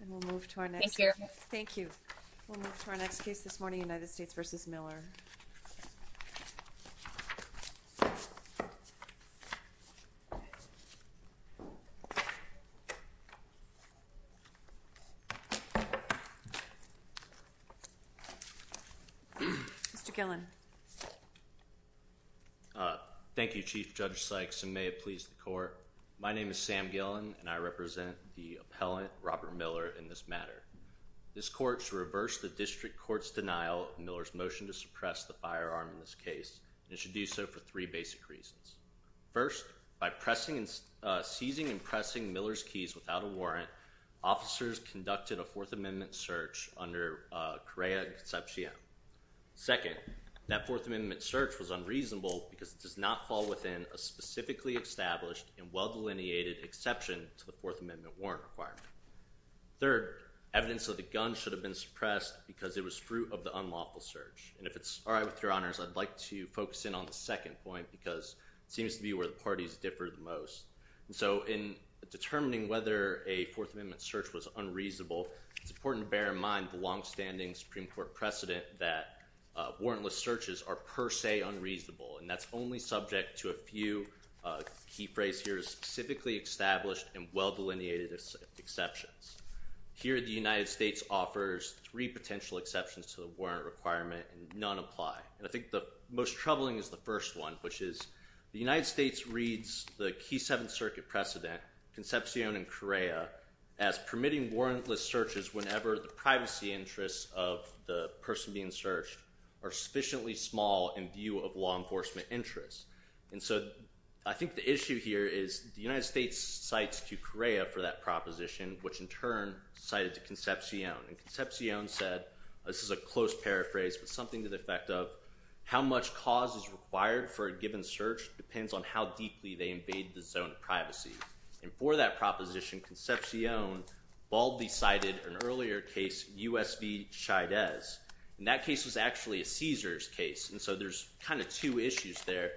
And we'll move to our next case. Thank you. We'll move to our next case this morning, United States v. Miller. Mr. Gillen. Thank you, Chief Judge Sykes, and may it please the court. My name is Sam Gillen, and I represent the appellant, Robert Miller, in this matter. This court should reverse the district court's denial of Miller's motion to suppress the firearm in this case, and it should do so for three basic reasons. First, by seizing and pressing Miller's keys without a warrant, officers conducted a Fourth Amendment search under Correa Concepcion. Second, that Fourth Amendment search was unreasonable because it does not fall within a specifically established and well-delineated exception to the Fourth Amendment warrant requirement. Third, evidence of the gun should have been suppressed because it was fruit of the unlawful search. And if it's all right with Your Honors, I'd like to focus in on the second point because it seems to be where the parties differ the most. And so in determining whether a Fourth Amendment search was unreasonable, it's important to bear in mind the longstanding Supreme Court precedent that warrantless searches are per se unreasonable, and that's only subject to a few key phrase here, specifically established and well-delineated exceptions. Here, the United States offers three potential exceptions to the warrant requirement, and none apply. And I think the most troubling is the first one, which is the United States reads the key Seventh Circuit precedent, Concepcion and Correa, as permitting warrantless searches whenever the privacy interests of the person being searched are sufficiently small in view of law enforcement interests. And so I think the issue here is the United States cites to Correa for that proposition, which in turn cited to Concepcion. And Concepcion said, this is a close paraphrase, but something to the effect of, how much cause is required for a given search depends on how deeply they invade the zone of privacy. And for that proposition, Concepcion baldly cited an earlier case, U.S. v. Chavez, and that case was actually a Caesars case. And so there's kind of two issues there.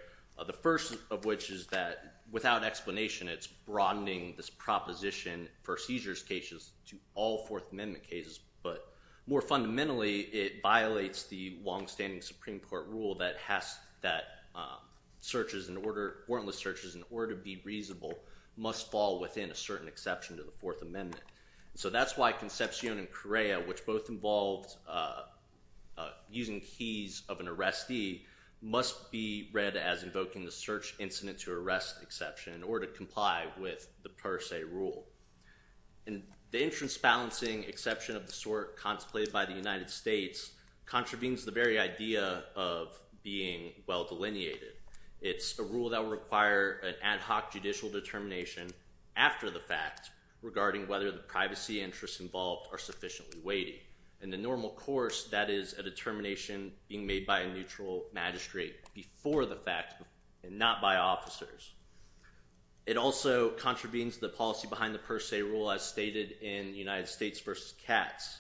The first of which is that, without explanation, it's broadening this proposition for Caesars cases to all Fourth Amendment cases. But more fundamentally, it violates the longstanding Supreme Court rule that warrantless searches, in order to be reasonable, must fall within a certain exception to the Fourth Amendment. So that's why Concepcion and Correa, which both involved using keys of an arrestee, must be read as invoking the search incident to arrest exception in order to comply with the per se rule. And the insurance balancing exception of the sort contemplated by the United States contravenes the very idea of being well delineated. It's a rule that will require an ad hoc judicial determination after the fact regarding whether the privacy interests involved are sufficiently weighty. In the normal course, that is a determination being made by a neutral magistrate before the fact, and not by officers. It also contravenes the policy behind the per se rule, as stated in United States v. Katz.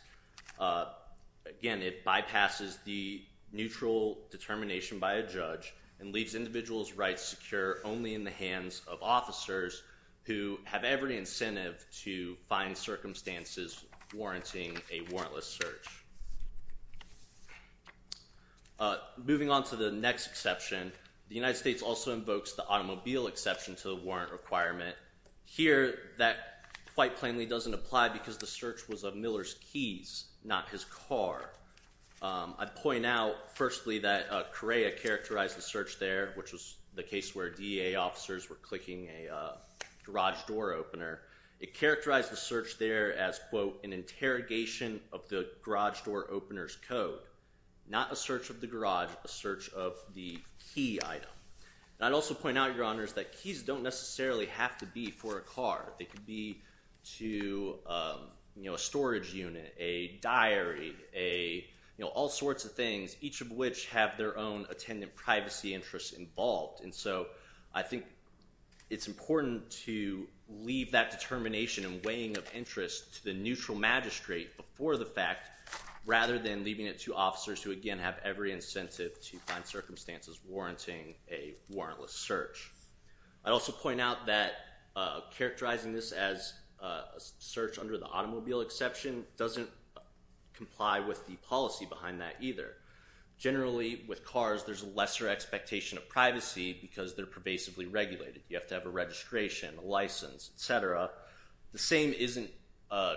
Again, it bypasses the neutral determination by a judge and leaves individuals' rights secure only in the hands of officers who have every incentive to find circumstances warranting a warrantless search. Moving on to the next exception, the United States also invokes the automobile exception to the warrant requirement. Here, that quite plainly doesn't apply because the search was of Miller's keys, not his car. I'd point out, firstly, that Correa characterized the search there, which was the case where DEA officers were clicking a garage door opener. It characterized the search there as, quote, an interrogation of the garage door opener's code, not a search of the garage, a search of the key item. I'd also point out, Your Honors, that keys don't necessarily have to be for a car. They could be to a storage unit, a diary, all sorts of things, each of which have their own attendant privacy interests involved. And so I think it's important to leave that determination and weighing of interest to the neutral magistrate before the fact, rather than leaving it to officers who, again, have every incentive to find circumstances warranting a warrantless search. I'd also point out that characterizing this as a search under the automobile exception doesn't comply with the policy behind that either. Generally, with cars, there's a lesser expectation of privacy because they're pervasively regulated. You have to have a registration, a license, et cetera. The same isn't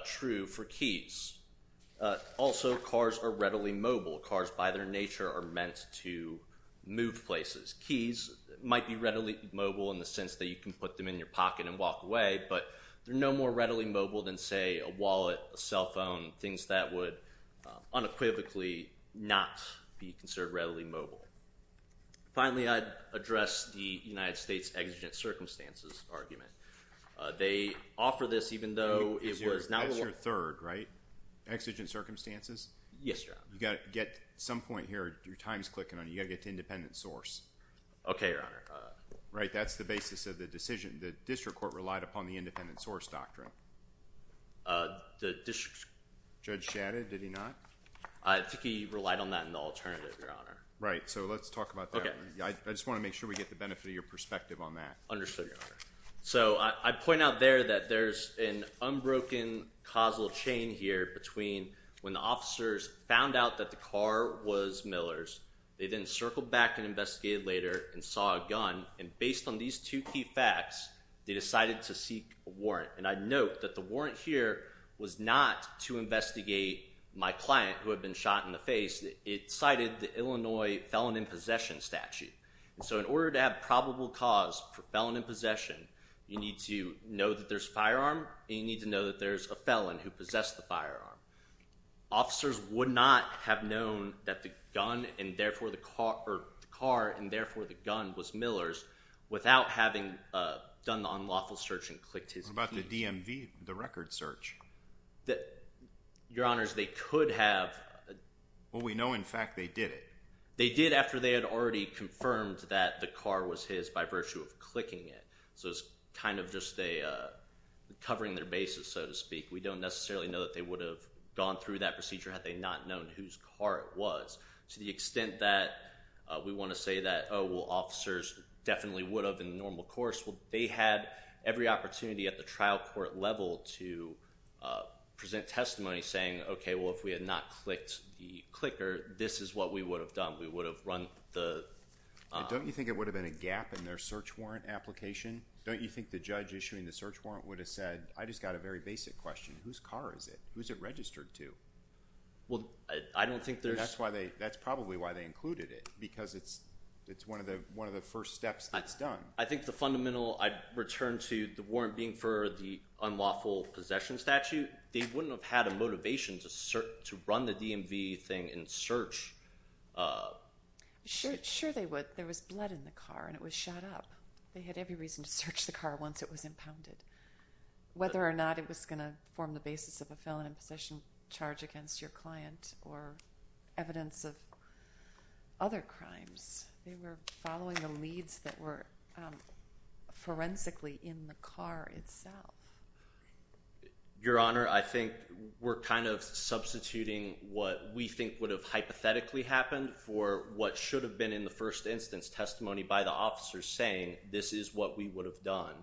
true for keys. Also, cars are readily mobile. Cars, by their nature, are meant to move places. Keys might be readily mobile in the sense that you can put them in your pocket and walk away, but they're no more readily mobile than, say, a wallet, a cell phone, things that would unequivocally not be considered readily mobile. Finally, I'd address the United States' exigent circumstances argument. They offer this even though it was not warranted. That's your third, right? Exigent circumstances? Yes, Your Honor. You've got to get some point here. Your time's clicking on it. You've got to get to independent source. Okay, Your Honor. Right. That's the basis of the decision. The district court relied upon the independent source doctrine. The district court. Judge Shadid, did he not? I think he relied on that in the alternative, Your Honor. Right. So let's talk about that. Okay. I just want to make sure we get the benefit of your perspective on that. Understood, Your Honor. So I point out there that there's an unbroken causal chain here between when the officers found out that the car was Miller's, they then circled back and investigated later and saw a gun, and based on these two key facts, they decided to seek a warrant. And I note that the warrant here was not to investigate my client who had been shot in the face. It cited the Illinois Felon in Possession statute. And so in order to have probable cause for felon in possession, you need to know that there's a firearm and you need to know that there's a felon who possessed the firearm. Officers would not have known that the car and therefore the gun was Miller's without having done the unlawful search and clicked his key. What about the DMV, the record search? Your Honors, they could have. Well, we know in fact they did it. They did after they had already confirmed that the car was his by virtue of clicking it. So it's kind of just a covering their bases, so to speak. We don't necessarily know that they would have gone through that procedure had they not known whose car it was. To the extent that we want to say that, oh, well, officers definitely would have in the normal course, well, they had every opportunity at the trial court level to present testimony saying, okay, well, if we had not clicked the clicker, this is what we would have done. We would have run the – Don't you think it would have been a gap in their search warrant application? Don't you think the judge issuing the search warrant would have said, I just got a very basic question. Whose car is it? Who is it registered to? Well, I don't think there's – That's probably why they included it because it's one of the first steps that's done. I think the fundamental – I'd return to the warrant being for the unlawful possession statute. They wouldn't have had a motivation to run the DMV thing and search. Sure they would. There was blood in the car, and it was shot up. They had every reason to search the car once it was impounded. Whether or not it was going to form the basis of a felon in possession charge against your client or evidence of other crimes, they were following the leads that were forensically in the car itself. Your Honor, I think we're kind of substituting what we think would have hypothetically happened for what should have been in the first instance testimony by the officers saying this is what we would have done.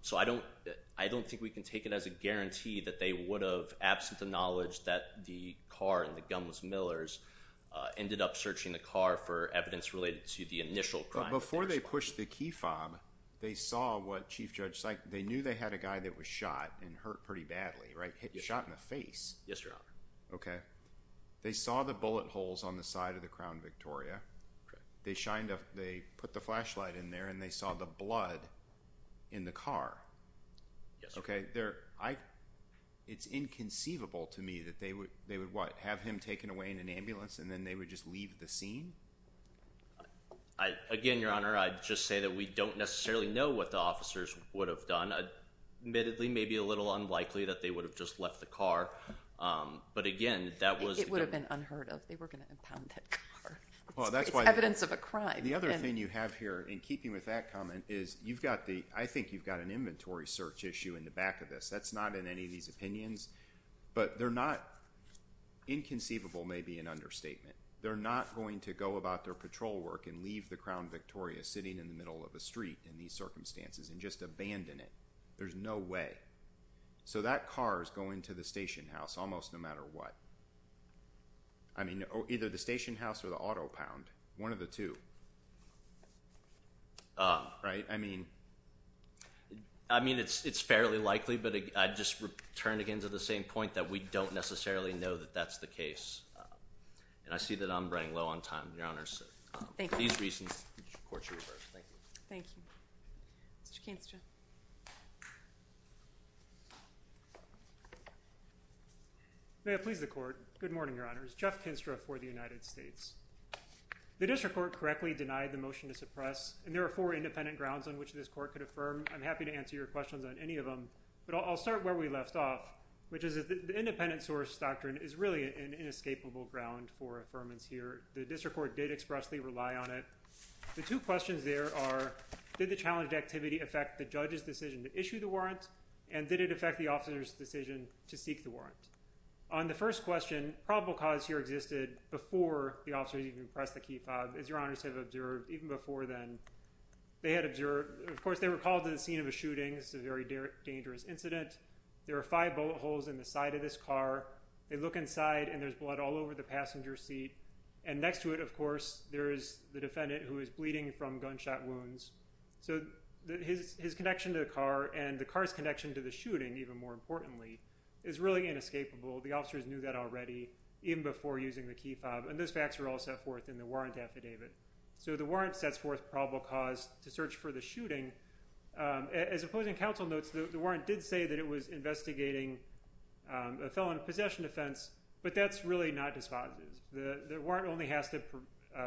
So I don't think we can take it as a guarantee that they would have, absent the knowledge that the car and the Gunn was Miller's, ended up searching the car for evidence related to the initial crime. Now before they pushed the key fob, they knew they had a guy that was shot and hurt pretty badly, right? Shot in the face. Yes, Your Honor. Okay. They saw the bullet holes on the side of the Crown Victoria. They put the flashlight in there and they saw the blood in the car. Yes, Your Honor. Okay. It's inconceivable to me that they would, what, have him taken away in an ambulance and then they would just leave the scene? Again, Your Honor, I'd just say that we don't necessarily know what the officers would have done. Admittedly, maybe a little unlikely that they would have just left the car. But again, that was... It would have been unheard of. They were going to impound that car. It's evidence of a crime. The other thing you have here, in keeping with that comment, is you've got the, I think you've got an inventory search issue in the back of this. That's not in any of these opinions. But they're not, inconceivable may be an understatement. They're not going to go about their patrol work and leave the Crown Victoria sitting in the middle of a street in these circumstances and just abandon it. There's no way. So that car is going to the station house almost no matter what. I mean, either the station house or the auto pound. One of the two. Right? I mean... I mean, it's fairly likely, but I'd just turn again to the same point, that we don't necessarily know that that's the case. And I see that I'm running low on time, Your Honors. Thank you. For these reasons, the Court should reverse. Thank you. Thank you. Mr. Kinstra. May it please the Court. Good morning, Your Honors. Jeff Kinstra for the United States. The District Court correctly denied the motion to suppress, and there are four independent grounds on which this Court could affirm. I'm happy to answer your questions on any of them, but I'll start where we left off, which is that the independent source doctrine is really an inescapable ground for affirmance here. The District Court did expressly rely on it. The two questions there are, did the challenged activity affect the judge's decision to issue the warrant, and did it affect the officer's decision to seek the warrant? On the first question, probable cause here existed before the officers even pressed the key fob, as Your Honors have observed, even before then. They had observed... Of course, they were called to the scene of a shooting. It's a very dangerous incident. There are five bullet holes in the side of this car. They look inside, and there's blood all over the passenger seat. And next to it, of course, there is the defendant who is bleeding from gunshot wounds. So his connection to the car and the car's connection to the shooting, even more importantly, is really inescapable. The officers knew that already even before using the key fob, and those facts were all set forth in the warrant affidavit. So the warrant sets forth probable cause to search for the shooting. As opposing counsel notes, the warrant did say that it was investigating a felon possession offense, but that's really not dispositive. The warrant only has to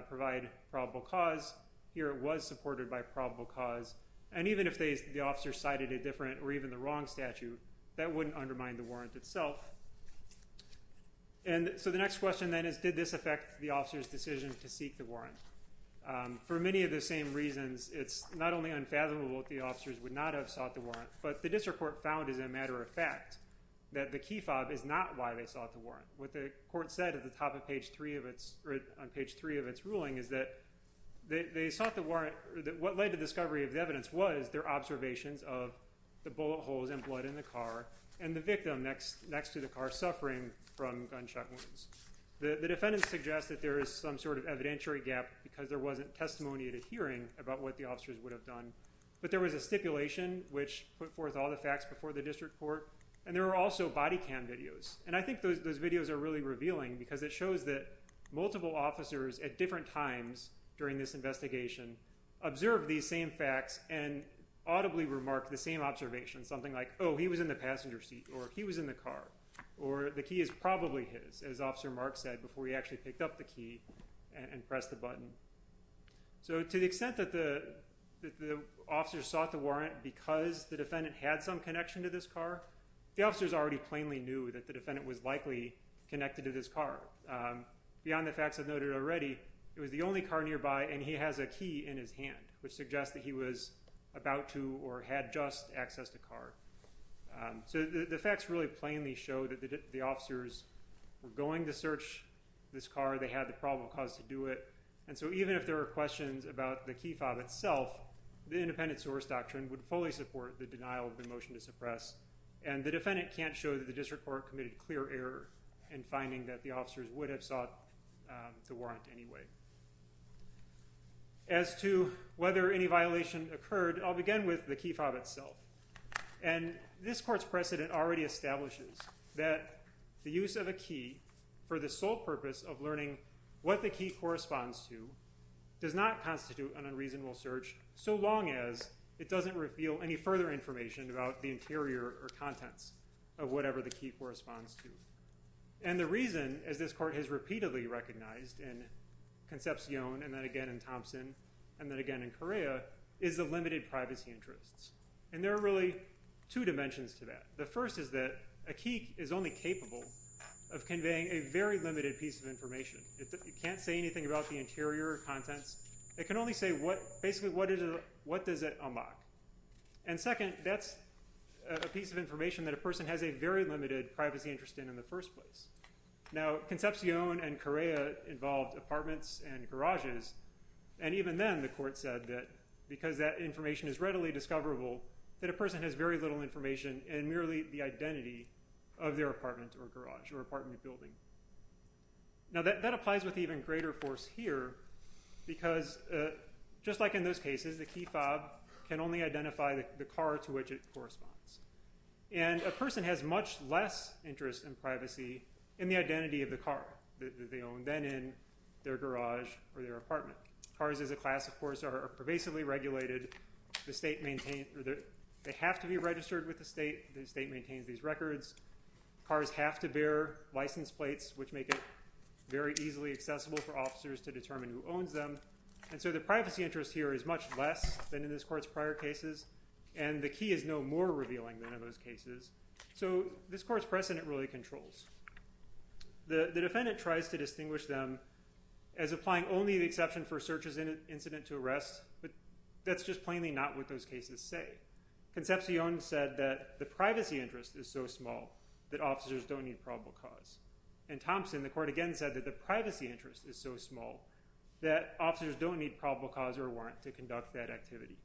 provide probable cause. Here it was supported by probable cause. And even if the officer cited a different or even the wrong statute, that wouldn't undermine the warrant itself. And so the next question then is, did this affect the officer's decision to seek the warrant? For many of the same reasons, it's not only unfathomable that the officers would not have sought the warrant, but the district court found, as a matter of fact, that the key fob is not why they sought the warrant. What the court said at the top of page 3 of its ruling is that they sought the warrant. What led to the discovery of the evidence was their observations of the bullet holes and blood in the car and the victim next to the car suffering from gunshot wounds. The defendant suggests that there is some sort of evidentiary gap because there wasn't testimony at a hearing about what the officers would have done, but there was a stipulation which put forth all the facts before the district court, and there were also body cam videos. And I think those videos are really revealing because it shows that multiple officers at different times during this investigation observed these same facts and audibly remarked the same observation, something like, oh, he was in the passenger seat, or he was in the car, or the key is probably his, as Officer Mark said, before he actually picked up the key and pressed the button. So to the extent that the officers sought the warrant because the defendant had some connection to this car, the officers already plainly knew that the defendant was likely connected to this car. Beyond the facts I've noted already, it was the only car nearby, and he has a key in his hand, which suggests that he was about to or had just access to the car. So the facts really plainly show that the officers were going to search this car, they had the probable cause to do it, and so even if there were questions about the key fob itself, the independent source doctrine would fully support the denial of the motion to suppress, and the defendant can't show that the district court committed clear error in finding that the officers would have sought the warrant anyway. As to whether any violation occurred, I'll begin with the key fob itself. And this court's precedent already establishes that the use of a key for the sole purpose of learning what the key corresponds to does not constitute an unreasonable search so long as it doesn't reveal any further information about the interior or contents of whatever the key corresponds to. And the reason, as this court has repeatedly recognized in Concepcion and then again in Thompson and then again in Correa, is the limited privacy interests. And there are really two dimensions to that. The first is that a key is only capable of conveying a very limited piece of information. It can't say anything about the interior or contents. It can only say basically what does it unlock. And second, that's a piece of information that a person has a very limited privacy interest in in the first place. Now, Concepcion and Correa involved apartments and garages, and even then the court said that because that information is readily discoverable, that a person has very little information and merely the identity of their apartment or garage or apartment building. Now, that applies with even greater force here because just like in those cases, the key fob can only identify the car to which it corresponds. And a person has much less interest in privacy in the identity of the car that they own then in their garage or their apartment. Cars as a class, of course, are pervasively regulated. They have to be registered with the state. The state maintains these records. Cars have to bear license plates, which make it very easily accessible for officers to determine who owns them. And so the privacy interest here is much less than in this court's prior cases, and the key is no more revealing than in those cases. So this court's precedent really controls. The defendant tries to distinguish them as applying only the exception for searches in an incident to arrest, but that's just plainly not what those cases say. Concepcion said that the privacy interest is so small that officers don't need probable cause. In Thompson, the court again said that the privacy interest is so small that officers don't need probable cause or warrant to conduct that activity.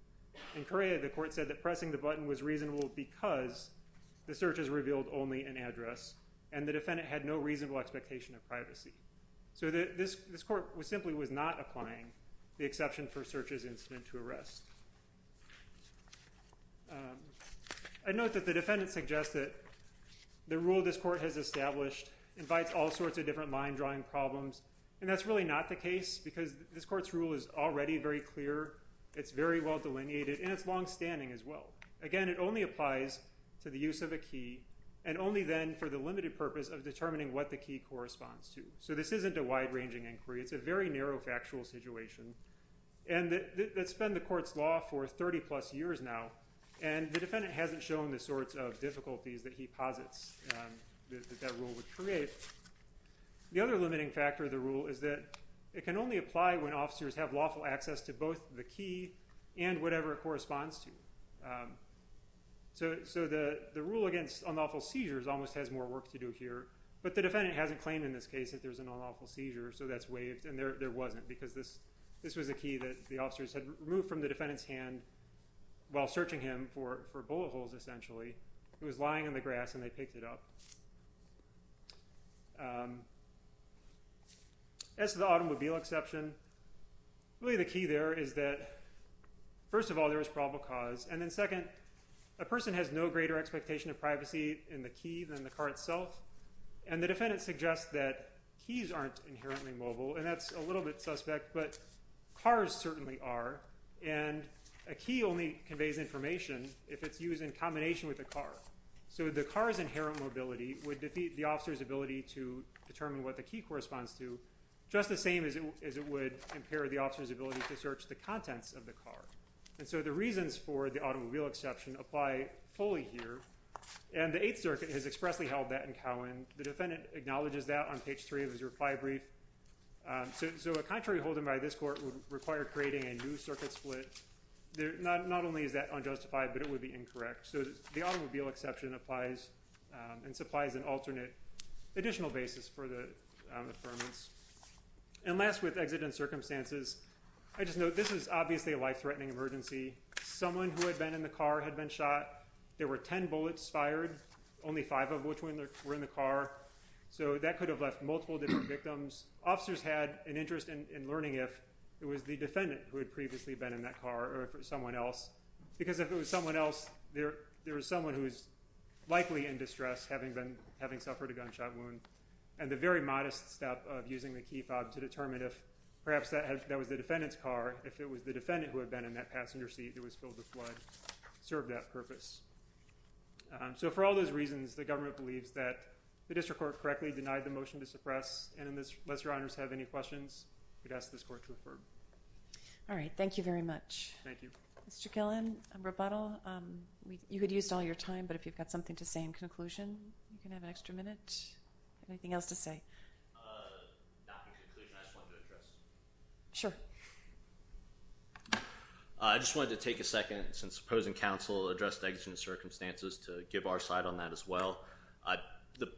In Correa, the court said that pressing the button was reasonable because the searches revealed only an address, and the defendant had no reasonable expectation of privacy. So this court simply was not applying the exception for searches in an incident to arrest. I note that the defendant suggests that the rule this court has established invites all sorts of different line-drawing problems, and that's really not the case because this court's rule is already very clear. It's very well delineated, and it's longstanding as well. Again, it only applies to the use of a key, and only then for the limited purpose of determining what the key corresponds to. So this isn't a wide-ranging inquiry. It's a very narrow factual situation that's been the court's law for 30-plus years now, and the defendant hasn't shown the sorts of difficulties that he posits that that rule would create. The other limiting factor of the rule is that it can only apply when officers have lawful access to both the key and whatever it corresponds to. So the rule against unlawful seizures almost has more work to do here, but the defendant hasn't claimed in this case that there's an unlawful seizure, so that's waived, and there wasn't because this was a key that the officers had removed from the defendant's hand while searching him for bullet holes, essentially. It was lying on the grass, and they picked it up. As to the automobile exception, really the key there is that, first of all, there is probable cause, and then second, a person has no greater expectation of privacy in the key than the car itself, and the defendant suggests that keys aren't inherently mobile, and that's a little bit suspect, but cars certainly are, and a key only conveys information if it's used in combination with a car. So the car's inherent mobility would defeat the officer's ability to determine what the key corresponds to, just the same as it would impair the officer's ability to search the contents of the car. And so the reasons for the automobile exception apply fully here, and the Eighth Circuit has expressly held that in Cowen. The defendant acknowledges that on page 3 of his reply brief. So a contrary holding by this court would require creating a new circuit split. Not only is that unjustified, but it would be incorrect. So the automobile exception applies and supplies an alternate additional basis for the affirmance. And last, with exit and circumstances, I just note this is obviously a life-threatening emergency. Someone who had been in the car had been shot. There were ten bullets fired, only five of which were in the car, so that could have left multiple different victims. Officers had an interest in learning if it was the defendant who had previously been in that car or someone else, because if it was someone else, there was someone who was likely in distress, having suffered a gunshot wound. And the very modest step of using the key fob to determine if perhaps that was the defendant's car, if it was the defendant who had been in that passenger seat that was filled with blood, served that purpose. So for all those reasons, the government believes that the district court correctly denied the motion to suppress, and unless your honors have any questions, I would ask this court to refer. All right, thank you very much. Thank you. Mr. Killen, rebuttal. You had used all your time, but if you've got something to say in conclusion, you can have an extra minute. Anything else to say? Not in conclusion, I just wanted to address. Sure. I just wanted to take a second, since opposing counsel addressed exit and circumstances, to give our side on that as well. The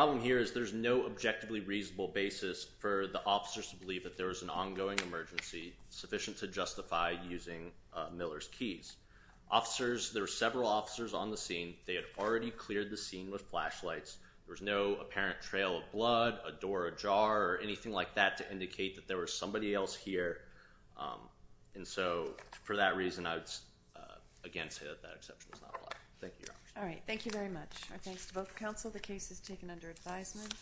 problem here is there's no objectively reasonable basis for the officers to believe that there was an ongoing emergency sufficient to justify using Miller's keys. Officers, there were several officers on the scene. They had already cleared the scene with flashlights. There was no apparent trail of blood, a door ajar, or anything like that to indicate that there was somebody else here. And so for that reason, I would again say that that exception is not applied. Thank you, Your Honor. All right, thank you very much. Our thanks to both counsel. The case is taken under advisement.